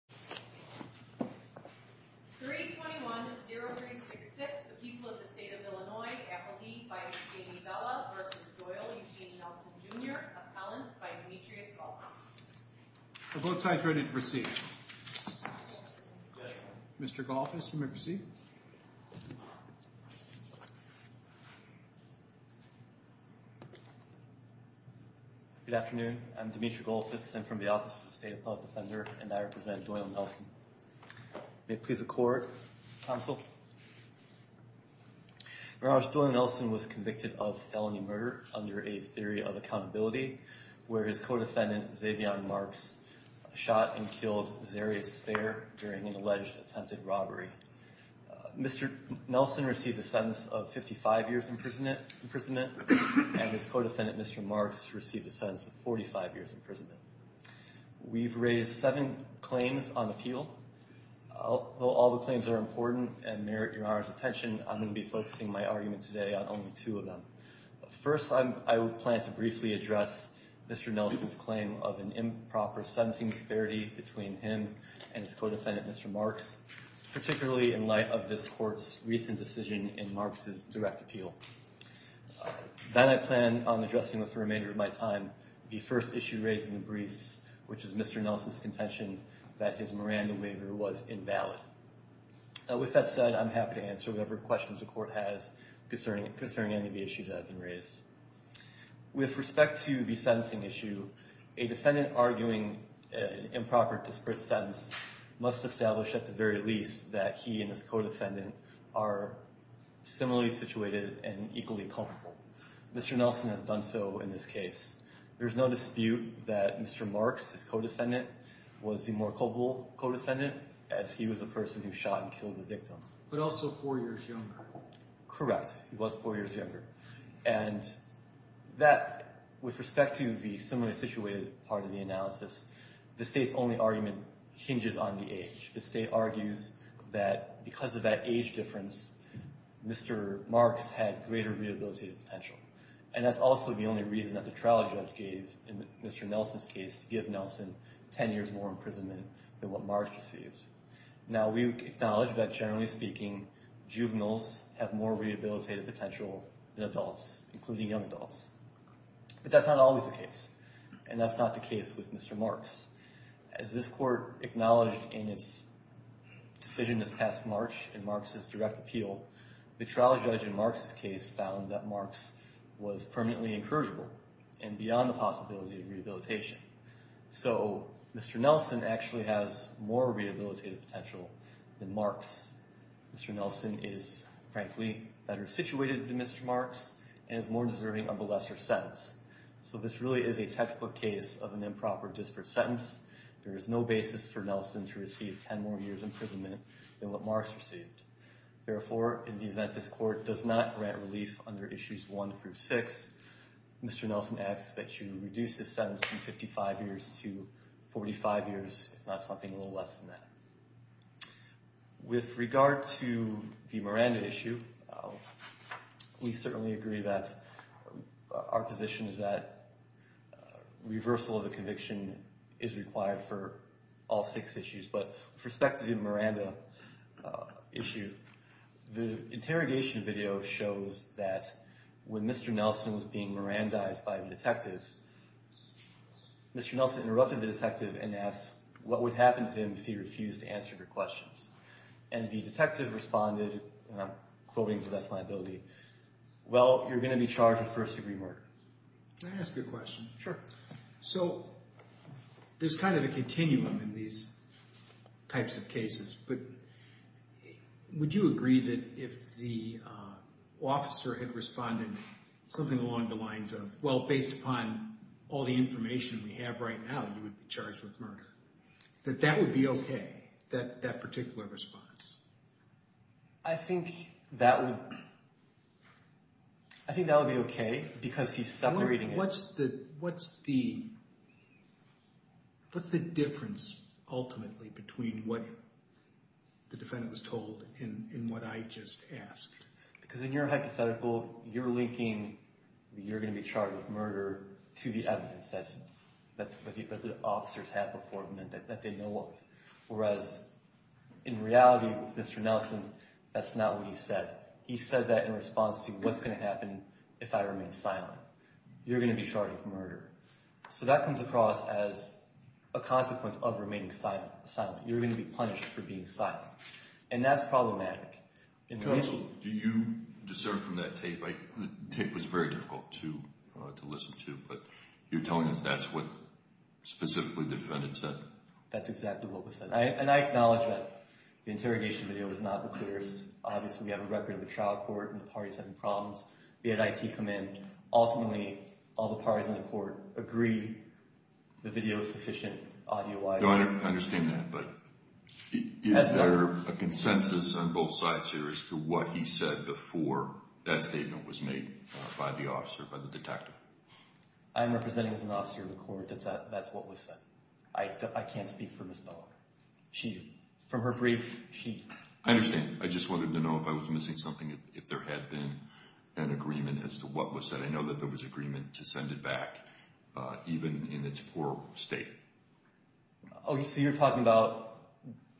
321-0366, the people of the state of Illinois, appealee by J.D. Bella v. Doyle Eugene Nelson, Jr., appellant by Demetrius Golfus. The vote sign is ready to proceed. Mr. Golfus, you may proceed. Good afternoon. I'm Demetrius Golfus. I'm from the Office of the State Appellate Defender, and I represent Doyle and Nelson. May it please the Court, Counsel. Your Honor, Doyle and Nelson was convicted of felony murder under a theory of accountability, where his co-defendant, Xavier Marks, shot and killed Xarius Thayer during an alleged attempted robbery. Mr. Nelson received a sentence of 55 years imprisonment, and his co-defendant, Mr. Marks, received a sentence of 45 years imprisonment. We've raised seven claims on appeal. Although all the claims are important and merit your Honor's attention, I'm going to be focusing my argument today on only two of them. First, I plan to briefly address Mr. Nelson's claim of an improper sentencing disparity between him and his co-defendant, Mr. Marks, particularly in light of this Court's recent decision in Marks' direct appeal. Then I plan on addressing, with the remainder of my time, the first issue raised in the briefs, which is Mr. Nelson's contention that his Miranda waiver was invalid. With that said, I'm happy to answer whatever questions the Court has concerning any of the issues that have been raised. With respect to the sentencing issue, a defendant arguing an improper disparate sentence must establish, at the very least, that he and his co-defendant are similarly situated and equally culpable. Mr. Nelson has done so in this case. There's no dispute that Mr. Marks, his co-defendant, was the more culpable co-defendant, as he was the person who shot and killed the victim. But also four years younger. Correct. He was four years younger. And that, with respect to the similarly situated part of the analysis, the State's only argument hinges on the age. The State argues that because of that age difference, Mr. Marks had greater rehabilitative potential. And that's also the only reason that the trial judge gave in Mr. Nelson's case to give Nelson 10 years more imprisonment than what Marks received. Now, we acknowledge that, generally speaking, juveniles have more rehabilitative potential than adults, including young adults. But that's not always the case. And that's not the case with Mr. Marks. As this Court acknowledged in its decision this past March in Marks' direct appeal, the trial judge in Marks' case found that Marks was permanently incorrigible and beyond the possibility of rehabilitation. So, Mr. Nelson actually has more rehabilitative potential than Marks. Mr. Nelson is, frankly, better situated than Mr. Marks and is more deserving of a lesser sentence. So this really is a textbook case of an improper disparate sentence. There is no basis for Nelson to receive 10 more years imprisonment than what Marks received. Therefore, in the event this Court does not grant relief under issues 1 through 6, Mr. Nelson asks that you reduce his sentence from 55 years to 45 years, if not something a little less than that. With regard to the Miranda issue, we certainly agree that our position is that reversal of the conviction is required for all six issues. But with respect to the Miranda issue, the interrogation video shows that when Mr. Nelson was being Mirandized by the detective, Mr. Nelson interrupted the detective and asked what would happen to him if he refused to answer your questions. And the detective responded, and I'm quoting to the best of my ability, well, you're going to be charged with first degree murder. Can I ask you a question? Sure. So there's kind of a continuum in these types of cases, but would you agree that if the officer had responded something along the lines of, well, based upon all the information we have right now, you would be charged with murder, that that would be okay, that particular response? I think that would be okay because he's separating it. What's the difference ultimately between what the defendant was told and what I just asked? Because in your hypothetical, you're linking you're going to be charged with murder to the evidence that the officers have before them that they know of, whereas in reality with Mr. Nelson, that's not what he said. He said that in response to what's going to happen if I remain silent. You're going to be charged with murder. So that comes across as a consequence of remaining silent. You're going to be punished for being silent. And that's problematic. Counsel, do you discern from that tape? The tape was very difficult to listen to, but you're telling us that's what specifically the defendant said? That's exactly what was said. And I acknowledge that the interrogation video was not the clearest. Obviously, we have a record of the trial court and the parties having problems. We had IT come in. Ultimately, all the parties in the court agreed the video was sufficient audio-wise. I understand that. Is there a consensus on both sides here as to what he said before that statement was made by the officer, by the detective? I'm representing as an officer of the court that that's what was said. I can't speak for Ms. Miller. From her brief, she… I understand. I just wanted to know if I was missing something, if there had been an agreement as to what was said. I know that there was agreement to send it back, even in its poor state. Oh, so you're talking about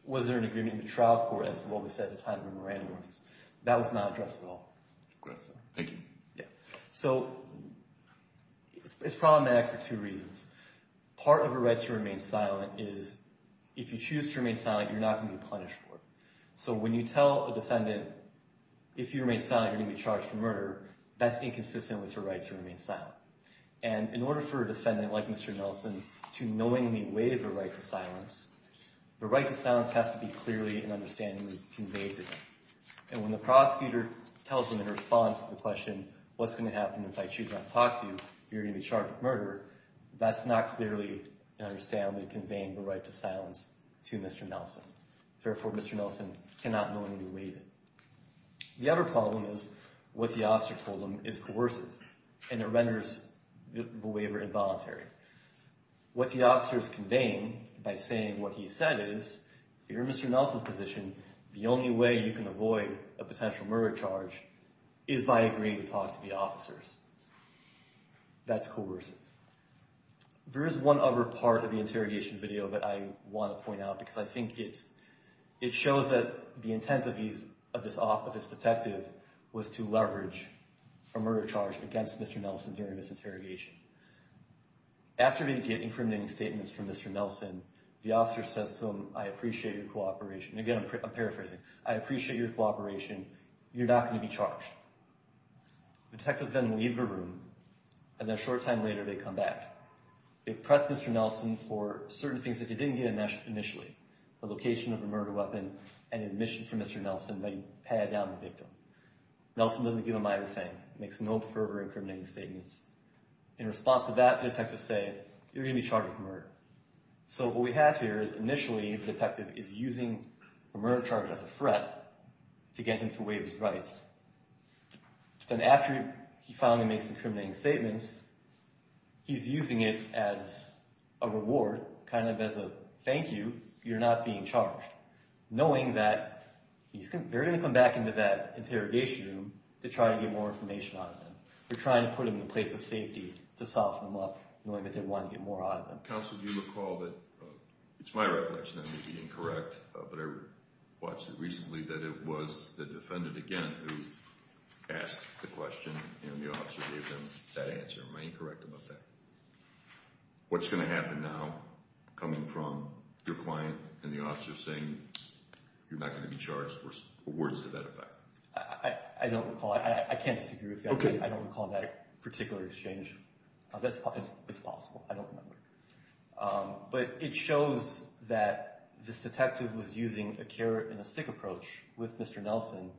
was there an agreement in the trial court as to what was said at the time of the Moran warnings. That was not addressed at all. Good. Thank you. Yeah. So it's problematic for two reasons. Part of her right to remain silent is if you choose to remain silent, you're not going to be punished for it. So when you tell a defendant, if you remain silent, you're going to be charged for murder, that's inconsistent with her right to remain silent. And in order for a defendant like Mr. Nelson to knowingly waive her right to silence, the right to silence has to be clearly and understandably conveyed to them. And when the prosecutor tells them in response to the question, what's going to happen if I choose not to talk to you, you're going to be charged with murder, that's not clearly and understandably conveying the right to silence to Mr. Nelson. Therefore, Mr. Nelson cannot knowingly waive it. The other problem is what the officer told them is coercive and it renders the waiver involuntary. What the officers conveying by saying what he said is, if you're in Mr. Nelson's position, the only way you can avoid a potential murder charge is by agreeing to talk to the officers. That's coercive. There is one other part of the interrogation video that I want to point out because I think it shows that the intent of this detective was to leverage a murder charge against Mr. Nelson during this interrogation. After they get incriminating statements from Mr. Nelson, the officer says to him, I appreciate your cooperation. Again, I'm paraphrasing. I appreciate your cooperation. You're not going to be charged. The detectives then leave the room, and then a short time later they come back. They press Mr. Nelson for certain things that he didn't get initially, the location of the murder weapon and admission from Mr. Nelson that he patted down the victim. Nelson doesn't give them either thing. He makes no further incriminating statements. In response to that, the detectives say, you're going to be charged with murder. So what we have here is initially the detective is using a murder charge as a threat to get him to waive his rights. Then after he finally makes the incriminating statements, he's using it as a reward, kind of as a thank you, you're not being charged, knowing that they're going to come back into that interrogation room to try to get more information out of them. They're trying to put them in a place of safety to soften them up, knowing that they want to get more out of them. Counsel, do you recall that, it's my recollection, I may be incorrect, but I watched it recently, that it was the defendant again who asked the question and the officer gave them that answer. Am I incorrect about that? What's going to happen now coming from your client and the officer saying, you're not going to be charged, or words to that effect? I don't recall. I can't disagree with you. I don't recall that particular exchange. It's possible. I don't remember. But it shows that this detective was using a carrot and a stick approach with Mr. Nelson,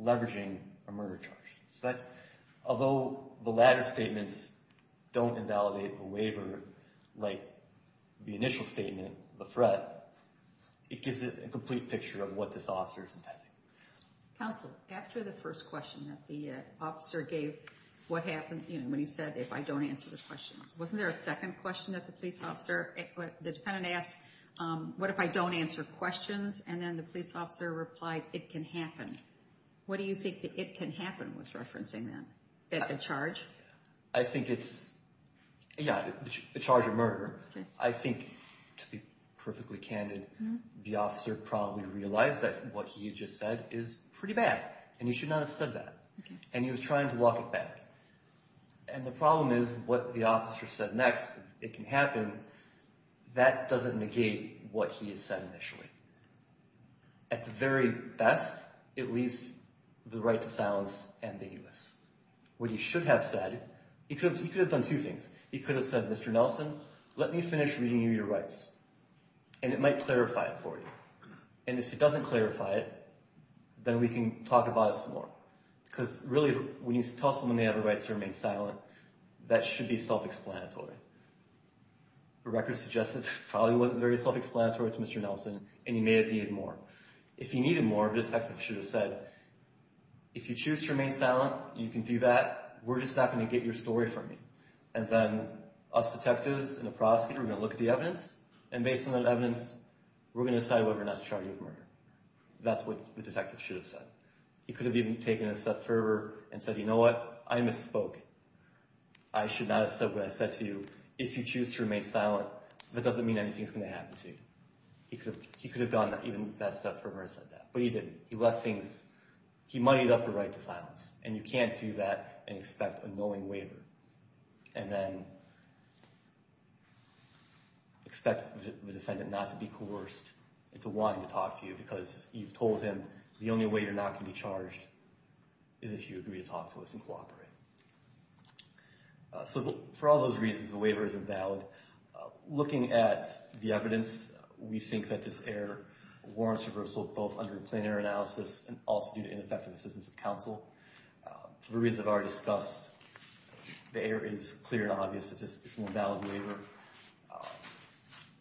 leveraging a murder charge. Although the latter statements don't invalidate the waiver, like the initial statement, the threat, it gives it a complete picture of what this officer is intending. Counsel, after the first question that the officer gave, what happened when he said, if I don't answer the questions, wasn't there a second question that the police officer, the defendant asked, what if I don't answer questions? And then the police officer replied, it can happen. What do you think the it can happen was referencing then? A charge? I think it's, yeah, a charge of murder. I think, to be perfectly candid, the officer probably realized that what he just said is pretty bad, and he should not have said that. And he was trying to walk it back. And the problem is, what the officer said next, it can happen, that doesn't negate what he said initially. At the very best, it leaves the right to silence ambiguous. What he should have said, he could have done two things. He could have said, Mr. Nelson, let me finish reading you your rights, and it might clarify it for you. And if it doesn't clarify it, then we can talk about it some more. Because really, when you tell someone they have a right to remain silent, that should be self-explanatory. The record suggests it probably wasn't very self-explanatory to Mr. Nelson, and he may have needed more. If he needed more, the detective should have said, if you choose to remain silent, you can do that. We're just not going to get your story from you. And then us detectives and the prosecutor are going to look at the evidence, and based on that evidence, we're going to decide whether or not to charge you with murder. That's what the detective should have said. He could have even taken a step further and said, you know what? I misspoke. I should not have said what I said to you. If you choose to remain silent, that doesn't mean anything's going to happen to you. He could have gone even a step further and said that. But he didn't. He left things. He muddied up the right to silence, and you can't do that and expect a knowing waiver. And then expect the defendant not to be coerced into wanting to talk to you, because you've told him the only way you're not going to be charged is if you agree to talk to us and cooperate. So for all those reasons, the waiver is invalid. Looking at the evidence, we think that this error warrants reversal both under a plain error analysis and also due to ineffective assistance of counsel. For the reasons I've already discussed, the error is clear and obvious. It's an invalid waiver.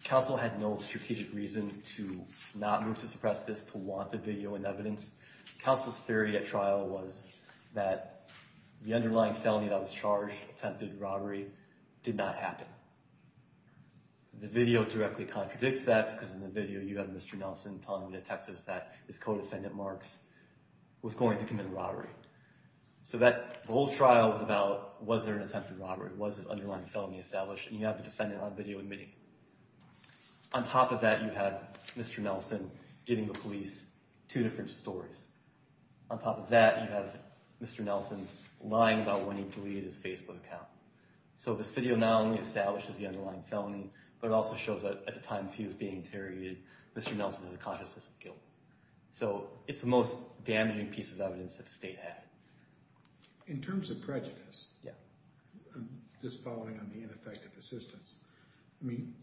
Counsel had no strategic reason to not move to suppress this, to want the video and evidence. Counsel's theory at trial was that the underlying felony that was charged, attempted robbery, did not happen. The video directly contradicts that, because in the video you have Mr. Nelson telling the detectives that his co-defendant, Marks, was going to commit a robbery. So the whole trial was about was there an attempted robbery, was this underlying felony established? And you have the defendant on video admitting it. On top of that, you have Mr. Nelson giving the police two different stories. On top of that, you have Mr. Nelson lying about when he deleted his Facebook account. So this video not only establishes the underlying felony, but it also shows that at the time he was being interrogated, Mr. Nelson has a consciousness of guilt. So it's the most damaging piece of evidence that the state had. In terms of prejudice, just following on the ineffective assistance, I mean,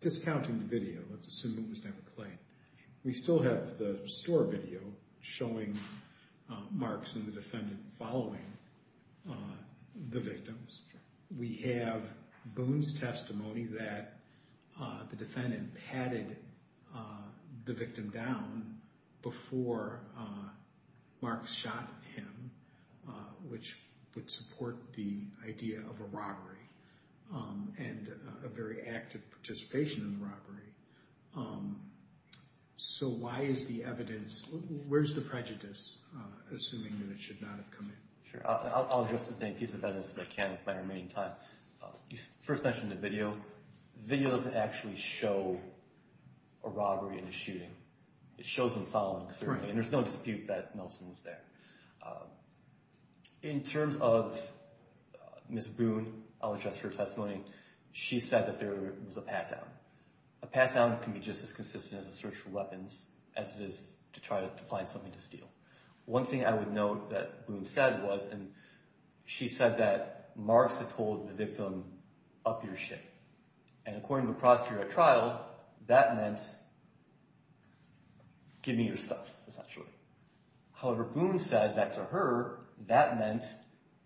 discounting the video, let's assume it was never claimed, we still have the store video showing Marks and the defendant following the victims. We have Boone's testimony that the defendant patted the victim down before Marks shot him, which would support the idea of a robbery and a very active participation in the robbery. So why is the evidence, where's the prejudice, assuming that it should not have come in? Sure. I'll address the same piece of evidence as I can with my remaining time. You first mentioned the video. The video doesn't actually show a robbery and a shooting. It shows them following, certainly, and there's no dispute that Nelson was there. In terms of Ms. Boone, I'll address her testimony. She said that there was a pat-down. A pat-down can be just as consistent as a search for weapons as it is to try to find something to steal. One thing I would note that Boone said was, and she said that Marks had told the victim, up your shit. And according to the prosecutor at trial, that meant, give me your stuff, essentially. However, Boone said that to her, that meant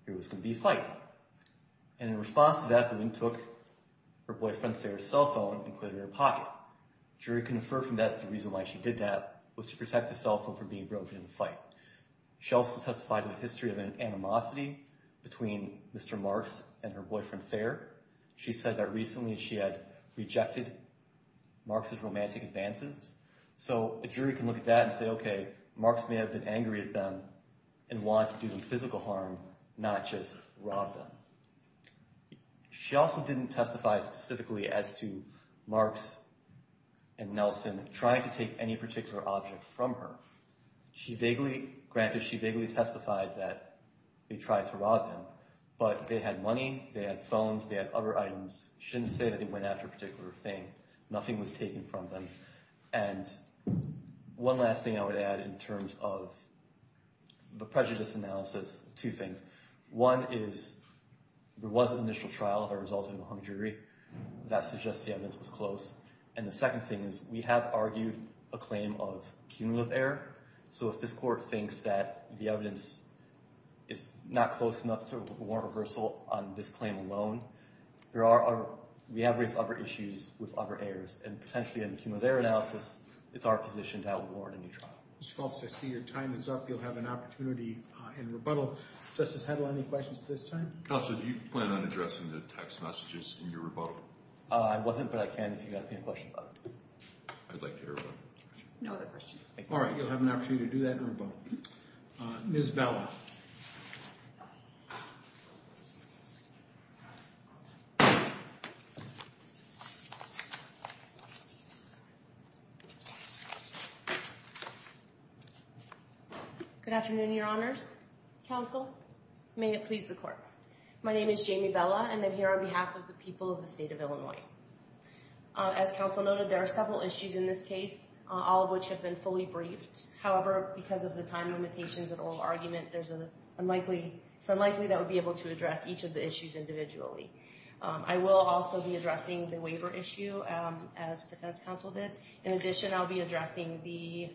there was going to be a fight. And in response to that, Boone took her boyfriend's cell phone and put it in her pocket. The jury can infer from that that the reason why she did that was to protect the cell phone from being broken in the fight. She also testified in the history of an animosity between Mr. Marks and her boyfriend, Thayer. She said that recently she had rejected Marks' romantic advances. So a jury can look at that and say, okay, Marks may have been angry at them and wanted to do them physical harm, not just rob them. She also didn't testify specifically as to Marks and Nelson trying to take any particular object from her. Granted, she vaguely testified that they tried to rob them, but they had money, they had phones, they had other items. Shouldn't say that they went after a particular thing. Nothing was taken from them. And one last thing I would add in terms of the prejudice analysis, two things. One is there was an initial trial that resulted in a hung jury. That suggests the evidence was close. And the second thing is we have argued a claim of cumulative error. So if this court thinks that the evidence is not close enough to warrant reversal on this claim alone, we have raised other issues with other heirs. And potentially in the cumulative error analysis, it's our position to outward warrant a new trial. Mr. Faulks, I see your time is up. You'll have an opportunity in rebuttal. Justice Hedl, any questions at this time? Counsel, do you plan on addressing the text messages in your rebuttal? I wasn't, but I can if you ask me a question about it. I'd like to hear about it. No other questions. Ms. Bella. Good afternoon, your honors. Counsel, may it please the court. My name is Jamie Bella, and I'm here on behalf of the people of the state of Illinois. As counsel noted, there are several issues in this case, all of which have been fully briefed. However, because of the time limitations and oral argument, it's unlikely that we'll be able to address each of the issues individually. I will also be addressing the waiver issue, as defense counsel did. In addition, I'll be addressing the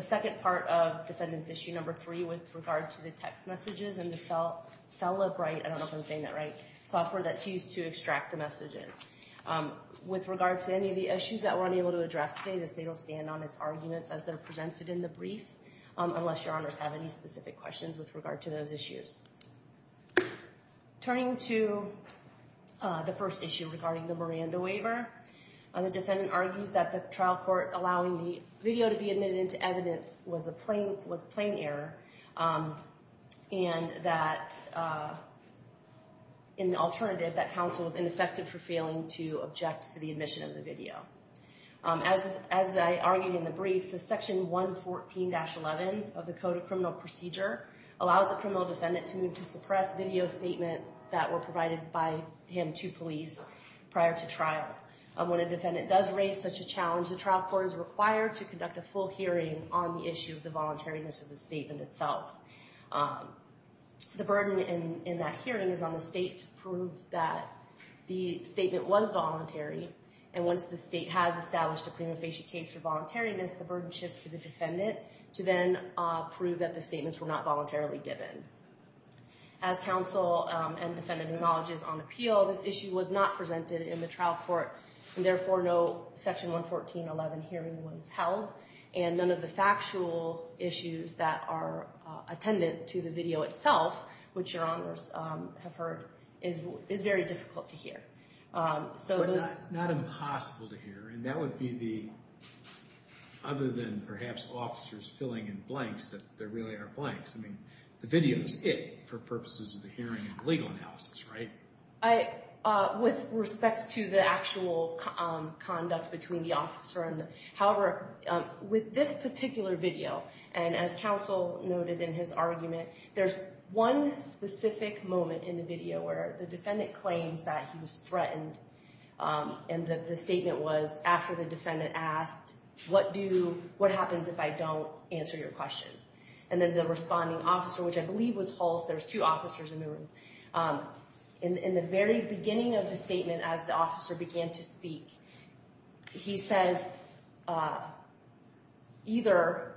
second part of defendant's issue number three with regard to the text messages and the cell-up-write, I don't know if I'm saying that right, software that's used to extract the messages. With regard to any of the issues that we're unable to address today, the state will stand on its arguments as they're presented in the brief, unless your honors have any specific questions with regard to those issues. Turning to the first issue regarding the Miranda waiver, the defendant argues that the trial court allowing the video to be admitted into evidence was a plain error, and that in the alternative, that counsel was ineffective for failing to object to the admission of the video. As I argued in the brief, the section 114-11 of the Code of Criminal Procedure allows the criminal defendant to suppress video statements that were provided by him to police prior to trial. When a defendant does raise such a challenge, the trial court is required to conduct a full hearing on the issue of the voluntariness of the statement itself. The burden in that hearing is on the state to prove that the statement was voluntary, and once the state has established a prima facie case for voluntariness, the burden shifts to the defendant to then prove that the statements were not voluntarily given. As counsel and defendant acknowledges on appeal, this issue was not presented in the trial court, and therefore no section 114-11 hearing was held, and none of the factual issues that are attendant to the video itself, But not impossible to hear, and that would be the, other than perhaps officers filling in blanks, that there really are blanks. I mean, the video is it for purposes of the hearing and legal analysis, right? With respect to the actual conduct between the officer and the, however, with this particular video, and as counsel noted in his argument, there's one specific moment in the video where the defendant claims that he was threatened, and that the statement was after the defendant asked, what do, what happens if I don't answer your questions? And then the responding officer, which I believe was Hulse, there's two officers in the room, in the very beginning of the statement as the officer began to speak, he says, either,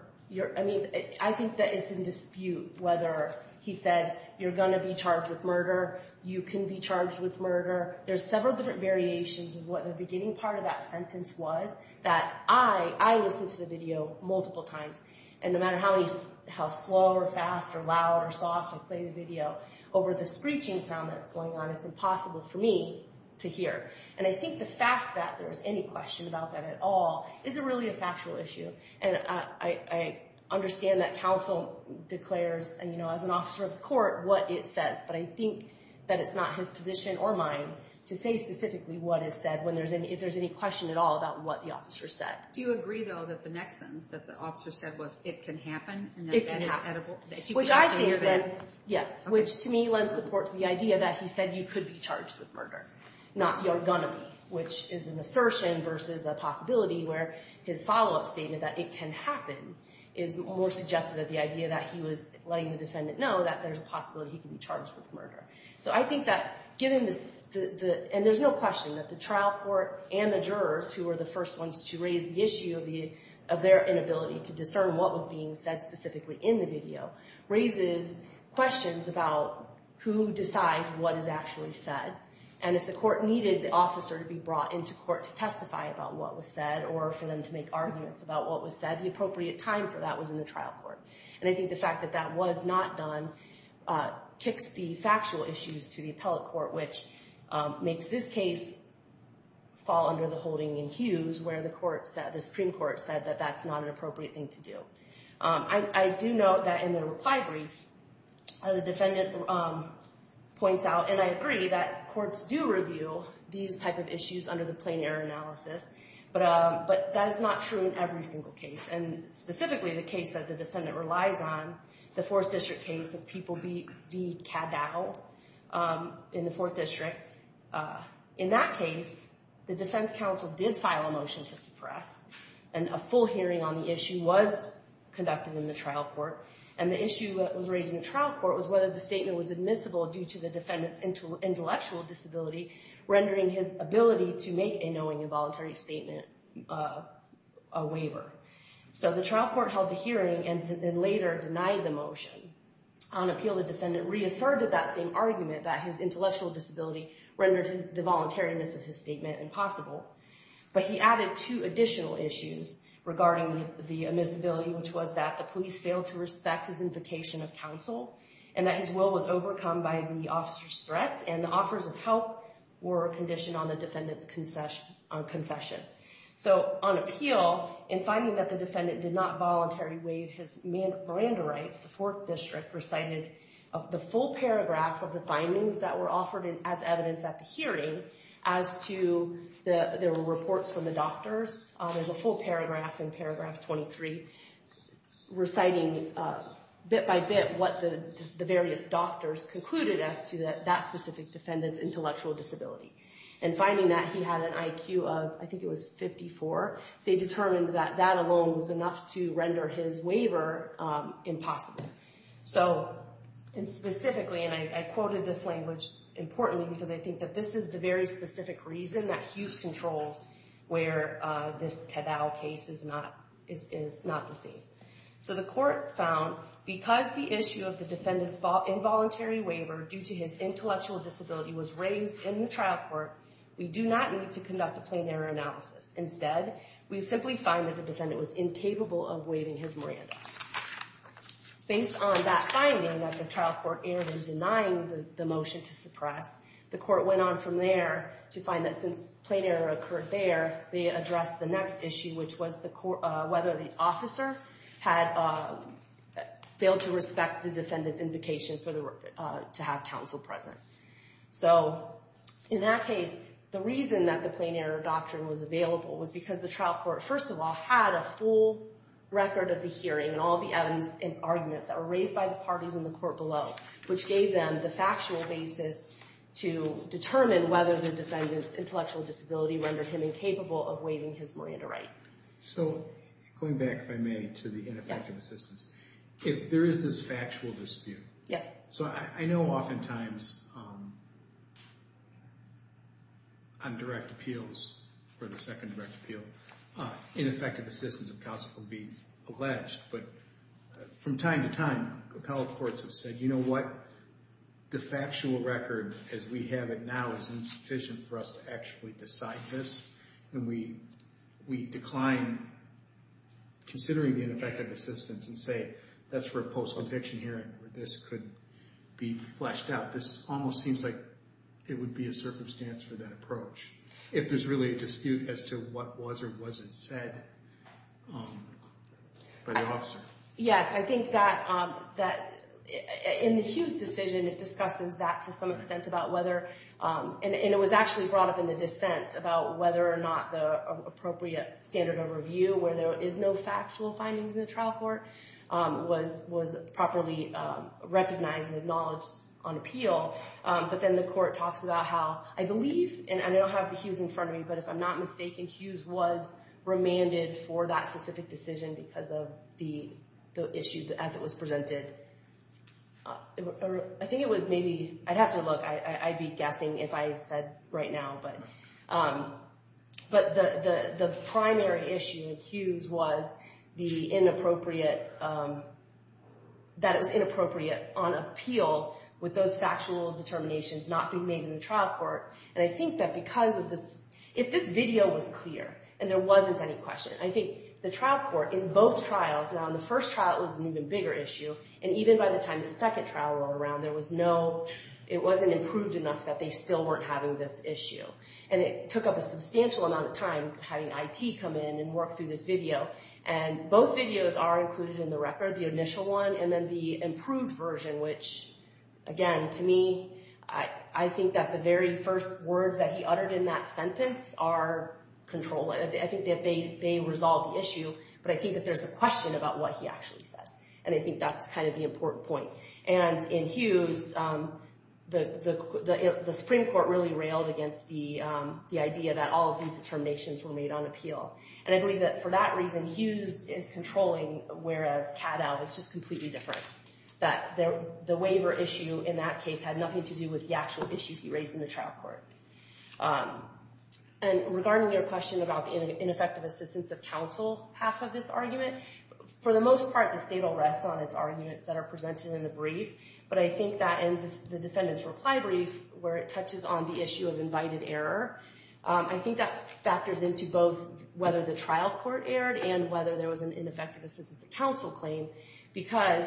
I mean, I think that it's in dispute whether he said, you're going to be charged with murder, you can be charged with murder. There's several different variations of what the beginning part of that sentence was, that I listened to the video multiple times, and no matter how slow or fast or loud or soft I play the video, over the screeching sound that's going on, it's impossible for me to hear. And I think the fact that there's any question about that at all is really a factual issue. And I understand that counsel declares, you know, as an officer of the court, what it says, but I think that it's not his position or mine to say specifically what is said when there's any, if there's any question at all about what the officer said. Do you agree, though, that the next sentence that the officer said was, it can happen? It can happen, which I think that, yes, which to me lends support to the idea that he said you could be charged with murder, not you're going to be, which is an assertion versus a possibility, where his follow-up statement that it can happen is more suggestive of the idea that he was letting the defendant know that there's a possibility he can be charged with murder. So I think that given this, and there's no question that the trial court and the jurors, who were the first ones to raise the issue of their inability to discern what was being said specifically in the video, raises questions about who decides what is actually said. And if the court needed the officer to be brought into court to testify about what was said or for them to make arguments about what was said, the appropriate time for that was in the trial court. And I think the fact that that was not done kicks the factual issues to the appellate court, which makes this case fall under the holding in Hughes where the Supreme Court said I do note that in the reply brief, the defendant points out, and I agree that courts do review these type of issues under the plain error analysis, but that is not true in every single case, and specifically the case that the defendant relies on, the Fourth District case of people being cat-battled in the Fourth District. In that case, the defense counsel did file a motion to suppress, and a full hearing on the issue was conducted in the trial court, and the issue that was raised in the trial court was whether the statement was admissible due to the defendant's intellectual disability, rendering his ability to make a knowing and voluntary statement a waiver. So the trial court held the hearing and then later denied the motion. On appeal, the defendant reasserted that same argument, that his intellectual disability rendered the voluntariness of his statement impossible, but he added two additional issues regarding the admissibility, which was that the police failed to respect his invocation of counsel, and that his will was overcome by the officer's threats, and the offers of help were conditioned on the defendant's confession. So on appeal, in finding that the defendant did not voluntarily waive his Miranda rights, the Fourth District recited the full paragraph of the findings that were offered as evidence at the hearing as to the reports from the doctors. There's a full paragraph in paragraph 23 reciting bit by bit what the various doctors concluded as to that specific defendant's intellectual disability, and finding that he had an IQ of, I think it was 54, they determined that that alone was enough to render his waiver impossible. So, and specifically, and I quoted this language importantly because I think that this is the very specific reason that Hughes controls where this Caddell case is not the same. So the court found because the issue of the defendant's involuntary waiver due to his intellectual disability was raised in the trial court, we do not need to conduct a plain error analysis. Instead, we simply find that the defendant was incapable of waiving his Miranda. Based on that finding that the trial court erred in denying the motion to suppress, the court went on from there to find that since plain error occurred there, they addressed the next issue, which was whether the officer had failed to respect the defendant's invocation to have counsel present. So in that case, the reason that the plain error doctrine was available was because the trial court, first of all, had a full record of the hearing and all the evidence and arguments that were raised by the parties in the court below, which gave them the factual basis to determine whether the defendant's intellectual disability rendered him incapable of waiving his Miranda rights. So, going back, if I may, to the ineffective assistance, there is this factual dispute. Yes. So I know oftentimes on direct appeals, for the second direct appeal, ineffective assistance of counsel can be alleged, but from time to time, appellate courts have said, you know what, the factual record as we have it now is insufficient for us to actually decide this, and we decline considering the ineffective assistance and say, that's for a post-conviction hearing where this could be fleshed out. This almost seems like it would be a circumstance for that approach if there's really a dispute as to what was or wasn't said by the officer. Yes. I think that in the Hughes decision, it discusses that to some extent about whether, and it was actually brought up in the dissent, about whether or not the appropriate standard of review, where there is no factual findings in the trial court, was properly recognized and acknowledged on appeal. But then the court talks about how, I believe, and I don't have the Hughes in front of me, but if I'm not mistaken, Hughes was remanded for that specific decision because of the issue as it was presented. I think it was maybe, I'd have to look. I'd be guessing if I said right now. But the primary issue in Hughes was that it was inappropriate on appeal with those factual determinations not being made in the trial court. And I think that because of this, if this video was clear and there wasn't any question, I think the trial court in both trials, now in the first trial it was an even bigger issue, and even by the time the second trial went around, there was no, it wasn't improved enough that they still weren't having this issue. And it took up a substantial amount of time having IT come in and work through this video. And both videos are included in the record, the initial one, and then the improved version, which, again, to me, I think that the very first words that he uttered in that sentence are controlling. I think that they resolve the issue, but I think that there's a question about what he actually said. And I think that's kind of the important point. And in Hughes, the Supreme Court really railed against the idea that all of these determinations were made on appeal. And I believe that for that reason, Hughes is controlling, whereas Caddell is just completely different, that the waiver issue in that case had nothing to do with the actual issue he raised in the trial court. And regarding your question about the ineffective assistance of counsel, half of this argument, for the most part, the state will rest on its arguments that are presented in the brief. But I think that in the defendant's reply brief, where it touches on the issue of invited error, I think that factors into both whether the trial court erred and whether there was an ineffective assistance of counsel claim. Because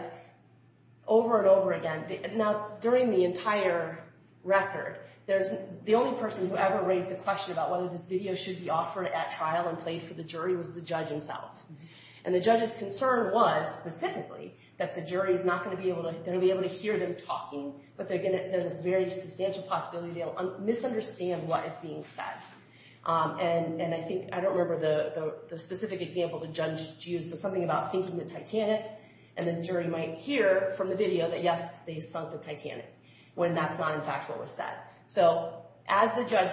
over and over again, now, during the entire record, the only person who ever raised the question about whether this video should be offered at trial and played for the jury was the judge himself. And the judge's concern was, specifically, that the jury's not going to be able to hear them talking, but there's a very substantial possibility they'll misunderstand what is being said. And I don't remember the specific example the judge used, but something about sinking the Titanic, and the jury might hear from the video that, yes, they sunk the Titanic, when that's not, in fact, what was said. So as the judge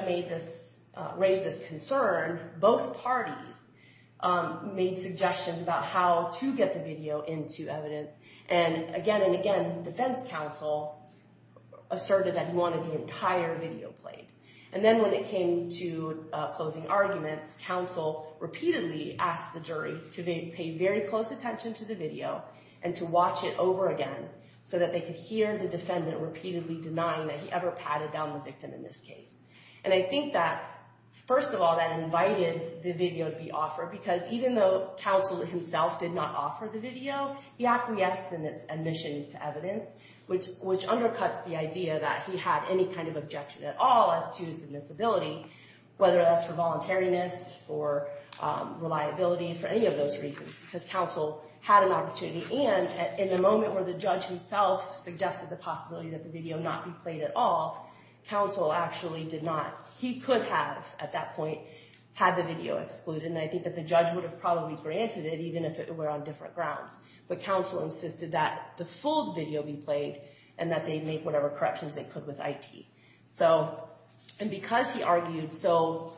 raised this concern, both parties made suggestions about how to get the video into evidence. And again and again, defense counsel asserted that he wanted the entire video played. And then when it came to closing arguments, counsel repeatedly asked the jury to pay very close attention to the video and to watch it over again, so that they could hear the defendant repeatedly denying that he ever patted down the victim in this case. And I think that, first of all, that invited the video to be offered, because even though counsel himself did not offer the video, he acquiesced in its admission to evidence, which undercuts the idea that he had any kind of objection at all as to his admissibility, whether that's for voluntariness, for reliability, for any of those reasons, because counsel had an opportunity. And in the moment where the judge himself suggested the possibility that the video not be played at all, counsel actually did not. He could have, at that point, had the video excluded, and I think that the judge would have probably granted it, even if it were on different grounds. But counsel insisted that the full video be played and that they make whatever corrections they could with IT. And because he argued so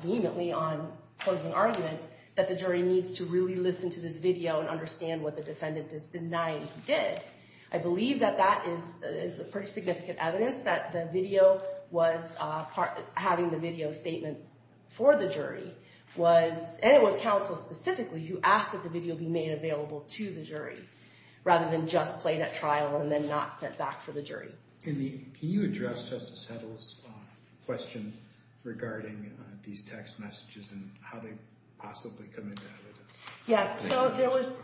vehemently on closing arguments that the jury needs to really listen to this video and understand what the defendant is denying he did, I believe that that is pretty significant evidence that having the video statements for the jury was, and it was counsel specifically, who asked that the video be made available to the jury rather than just played at trial and then not sent back for the jury. Can you address Justice Heddle's question regarding these text messages and how they possibly come into evidence? Yes, so there was...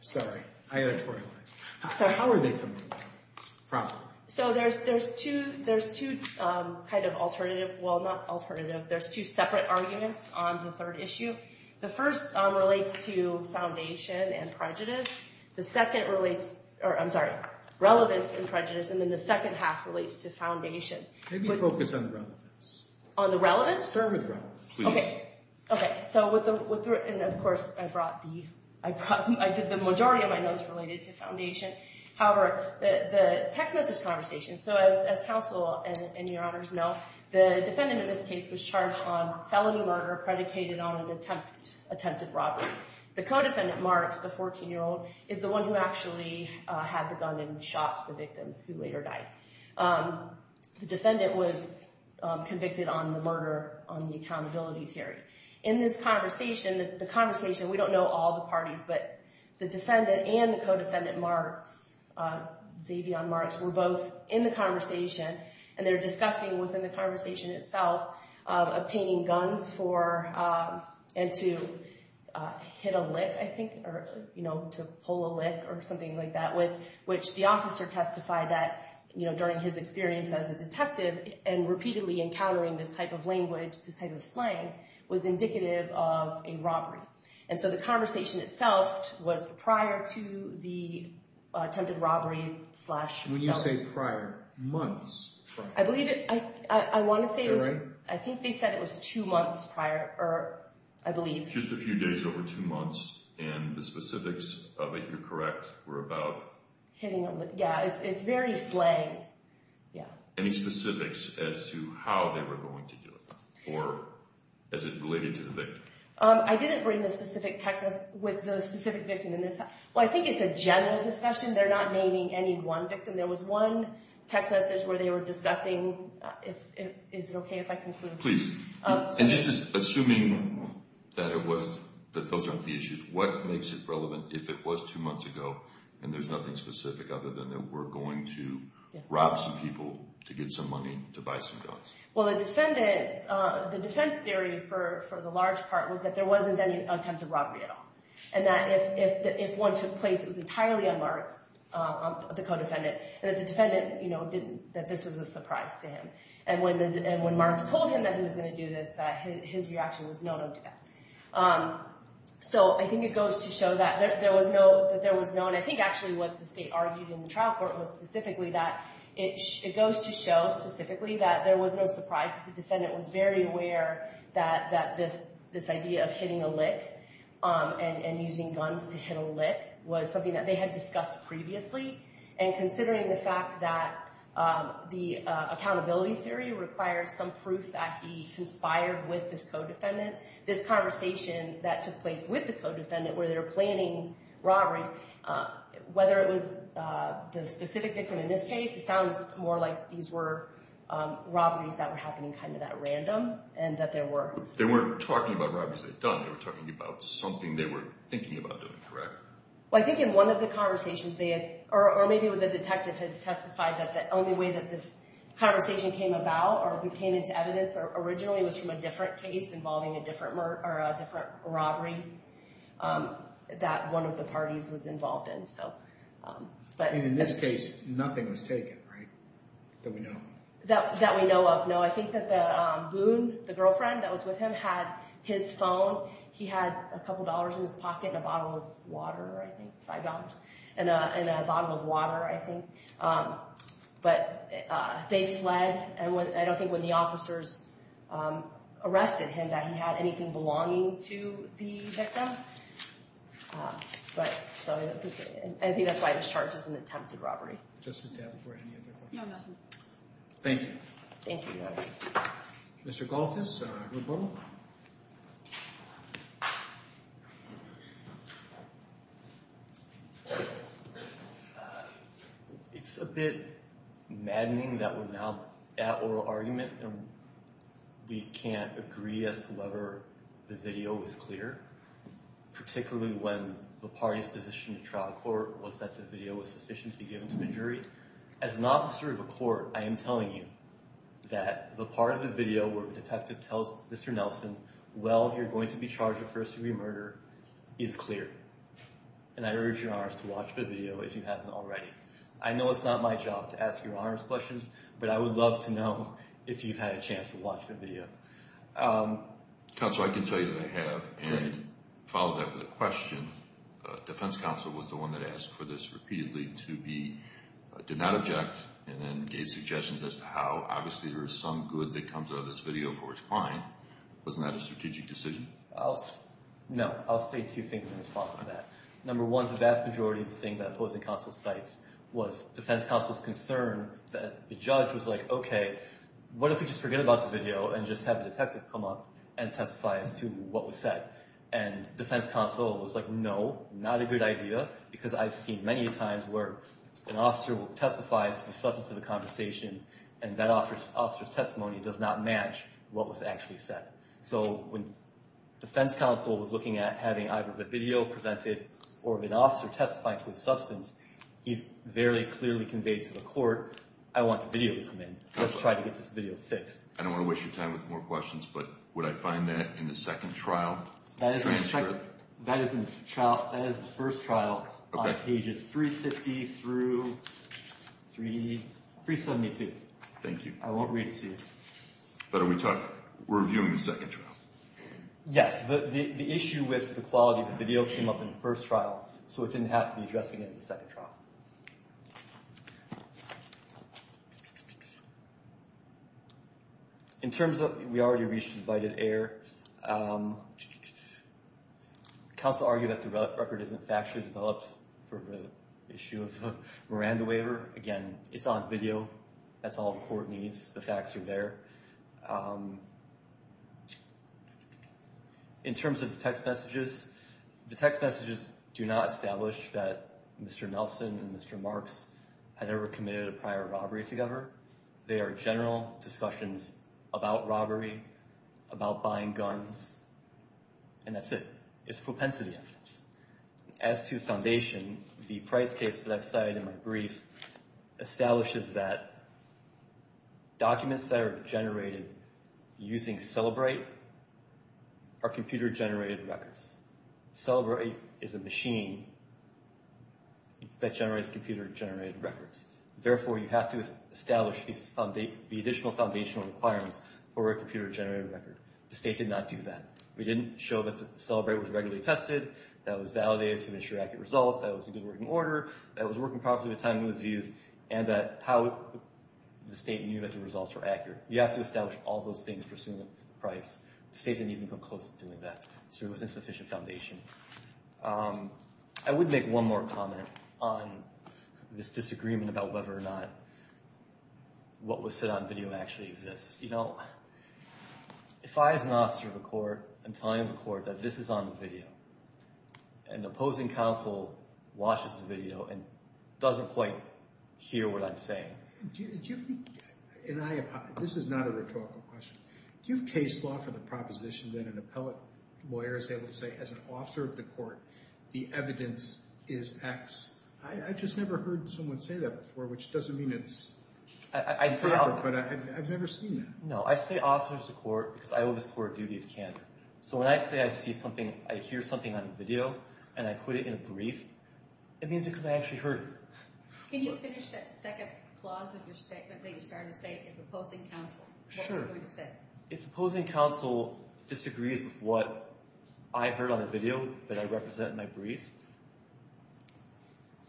Sorry, I editorialized. How are they coming into evidence? Probably. So there's two kind of alternative... Well, not alternative. There's two separate arguments on the third issue. The first relates to foundation and prejudice. The second relates... Or, I'm sorry, relevance and prejudice, and then the second half relates to foundation. Maybe focus on the relevance. On the relevance? Experiment with relevance. Okay. Okay, so with the... And, of course, I brought the... The majority of my notes related to foundation. However, the text message conversation... So as counsel and your honors know, the defendant in this case was charged on felony murder predicated on an attempted robbery. The co-defendant, Marks, the 14-year-old, is the one who actually had the gun and shot the victim, who later died. The defendant was convicted on the murder, on the accountability theory. In this conversation, the conversation... The defendant and the co-defendant, Marks, Xavion Marks, were both in the conversation, and they're discussing within the conversation itself obtaining guns for... And to hit a lick, I think, or to pull a lick or something like that, which the officer testified that, during his experience as a detective and repeatedly encountering this type of language, this type of slang, was indicative of a robbery. And so the conversation itself was prior to the attempted robbery slash... When you say prior, months prior. I believe it... I want to say... Is that right? I think they said it was two months prior, or I believe... Just a few days over two months, and the specifics of it, you're correct, were about... Hitting a lick. Yeah, it's very slang. Yeah. Any specifics as to how they were going to do it or as it related to the victim? I didn't bring the specific text with the specific victim. Well, I think it's a general discussion. They're not naming any one victim. There was one text message where they were discussing... Is it okay if I conclude? Please. And just assuming that those aren't the issues, what makes it relevant if it was two months ago, and there's nothing specific other than they were going to rob some people to get some money to buy some guns? Well, the defendants... The defense theory for the large part was that there wasn't any attempted robbery at all, and that if one took place, it was entirely on Marks, the co-defendant, and that the defendant didn't... That this was a surprise to him. And when Marks told him that he was going to do this, his reaction was no, no, no. So I think it goes to show that there was no... I think actually what the state argued in the trial court was specifically that it goes to show specifically that there was no surprise. The defendant was very aware that this idea of hitting a lick and using guns to hit a lick was something that they had discussed previously. And considering the fact that the accountability theory requires some proof that he conspired with this co-defendant, this conversation that took place with the co-defendant where they were planning robberies, whether it was the specific victim in this case, it sounds more like these were robberies that were happening kind of at random and that there were... They weren't talking about robberies they'd done. They were talking about something they were thinking about doing, correct? Well, I think in one of the conversations they had... Or maybe the detective had testified that the only way that this conversation came about or came into evidence originally was from a different case involving a different robbery that one of the parties was involved in, so... And in this case, nothing was taken, right? That we know of. That we know of, no. I think that Boone, the girlfriend that was with him, had his phone. He had a couple dollars in his pocket and a bottle of water, I think, five dollars, and a bottle of water, I think. But they fled, and I don't think when the officers arrested him that he had anything belonging to the victim. But, so... I think that's why this charge is an attempted robbery. Just to tap before any other questions. No, nothing. Thank you. Thank you, Your Honor. Mr. Golthus, or Boone? It's a bit maddening that we're now at oral argument and we can't agree as to whether the video was clear. Particularly when the party's position in trial court was that the video was sufficiently given to the jury. As an officer of a court, I am telling you that the part of the video where the detective tells Mr. Nelson, well, you're going to be charged with first-degree murder, is clear. And I urge Your Honors to watch the video if you haven't already. I know it's not my job to ask Your Honors questions, but I would love to know if you've had a chance to watch the video. Counsel, I can tell you that I have. And follow that with a question. Defense counsel was the one that asked for this repeatedly to be did not object and then gave suggestions as to how, obviously, there is some good that comes out of this video for its client. Wasn't that a strategic decision? No. I'll say two things in response to that. Number one, the vast majority of the thing that opposing counsel cites was defense counsel's concern that the judge was like, okay, what if we just forget about the video and just have the detective come up and testify as to what was said? And defense counsel was like, no, not a good idea because I've seen many times where an officer testifies to the substance of the conversation and that officer's testimony does not match what was actually said. So when defense counsel was looking at having either the video presented or an officer testifying to the substance, he very clearly conveyed to the court, I want the video to come in. Let's try to get this video fixed. I don't want to waste your time with more questions, but would I find that in the second trial transcript? That is the first trial on pages 350 through 372. Thank you. I won't read to you. But are we reviewing the second trial? Yes. The issue with the quality of the video came up in the first trial, so it didn't have to be addressed again in the second trial. In terms of we already reached invited air, counsel argued that the record isn't factually developed for the issue of Miranda waiver. Again, it's on video. That's all the court needs. The facts are there. In terms of the text messages, the text messages do not establish that Mr. Nelson and Mr. Marks had ever committed a prior robbery together. They are general discussions about robbery, about buying guns, and that's it. It's propensity evidence. As to foundation, the price case that I've cited in my brief establishes that documents that are generated using Celebrate are computer-generated records. Celebrate is a machine that generates computer-generated records. Therefore, you have to establish the additional foundational requirements for a computer-generated record. The state did not do that. We didn't show that Celebrate was regularly tested, that it was validated to ensure accurate results, that it was in good working order, that it was working properly with the time it was used, and that how the state knew that the results were accurate. You have to establish all those things for assuming the price. The state didn't even come close to doing that. It's really an insufficient foundation. I would make one more comment on this disagreement about whether or not what was said on video actually exists. You know, if I, as an officer of the court, am telling the court that this is on video and the opposing counsel watches the video and doesn't quite hear what I'm saying. This is not a rhetorical question. Do you have case law for the proposition that an appellate lawyer is able to say, as an officer of the court, the evidence is X? I just never heard someone say that before, which doesn't mean it's true, but I've never seen that. No, I say officer of the court because I owe this court a duty of candor. So when I say I hear something on video and I put it in a brief, it means because I actually heard it. Can you finish that second clause of your statement that you started to say, if opposing counsel disagrees with what I heard on a video that I represent in my brief?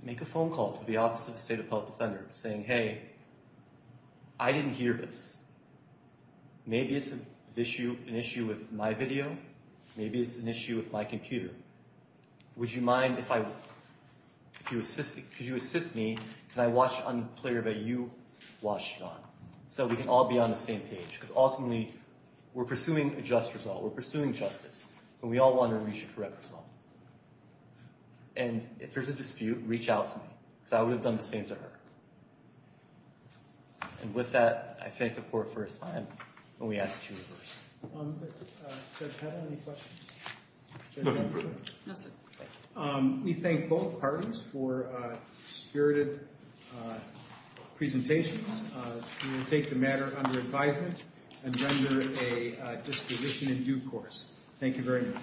Make a phone call to the office of the state appellate defender saying, hey, I didn't hear this. Maybe it's an issue with my video. Maybe it's an issue with my computer. Would you mind if I – could you assist me? Can I watch it on the player that you watched it on so we can all be on the same page? Because ultimately, we're pursuing a just result. We're pursuing justice. And we all want to reach a correct result. And if there's a dispute, reach out to me because I would have done the same to her. And with that, I thank the court for its time. And we ask that you reverse. Does Heather have any questions? No, sir. We thank both parties for spirited presentations. We will take the matter under advisement and render a disposition in due course. Thank you very much.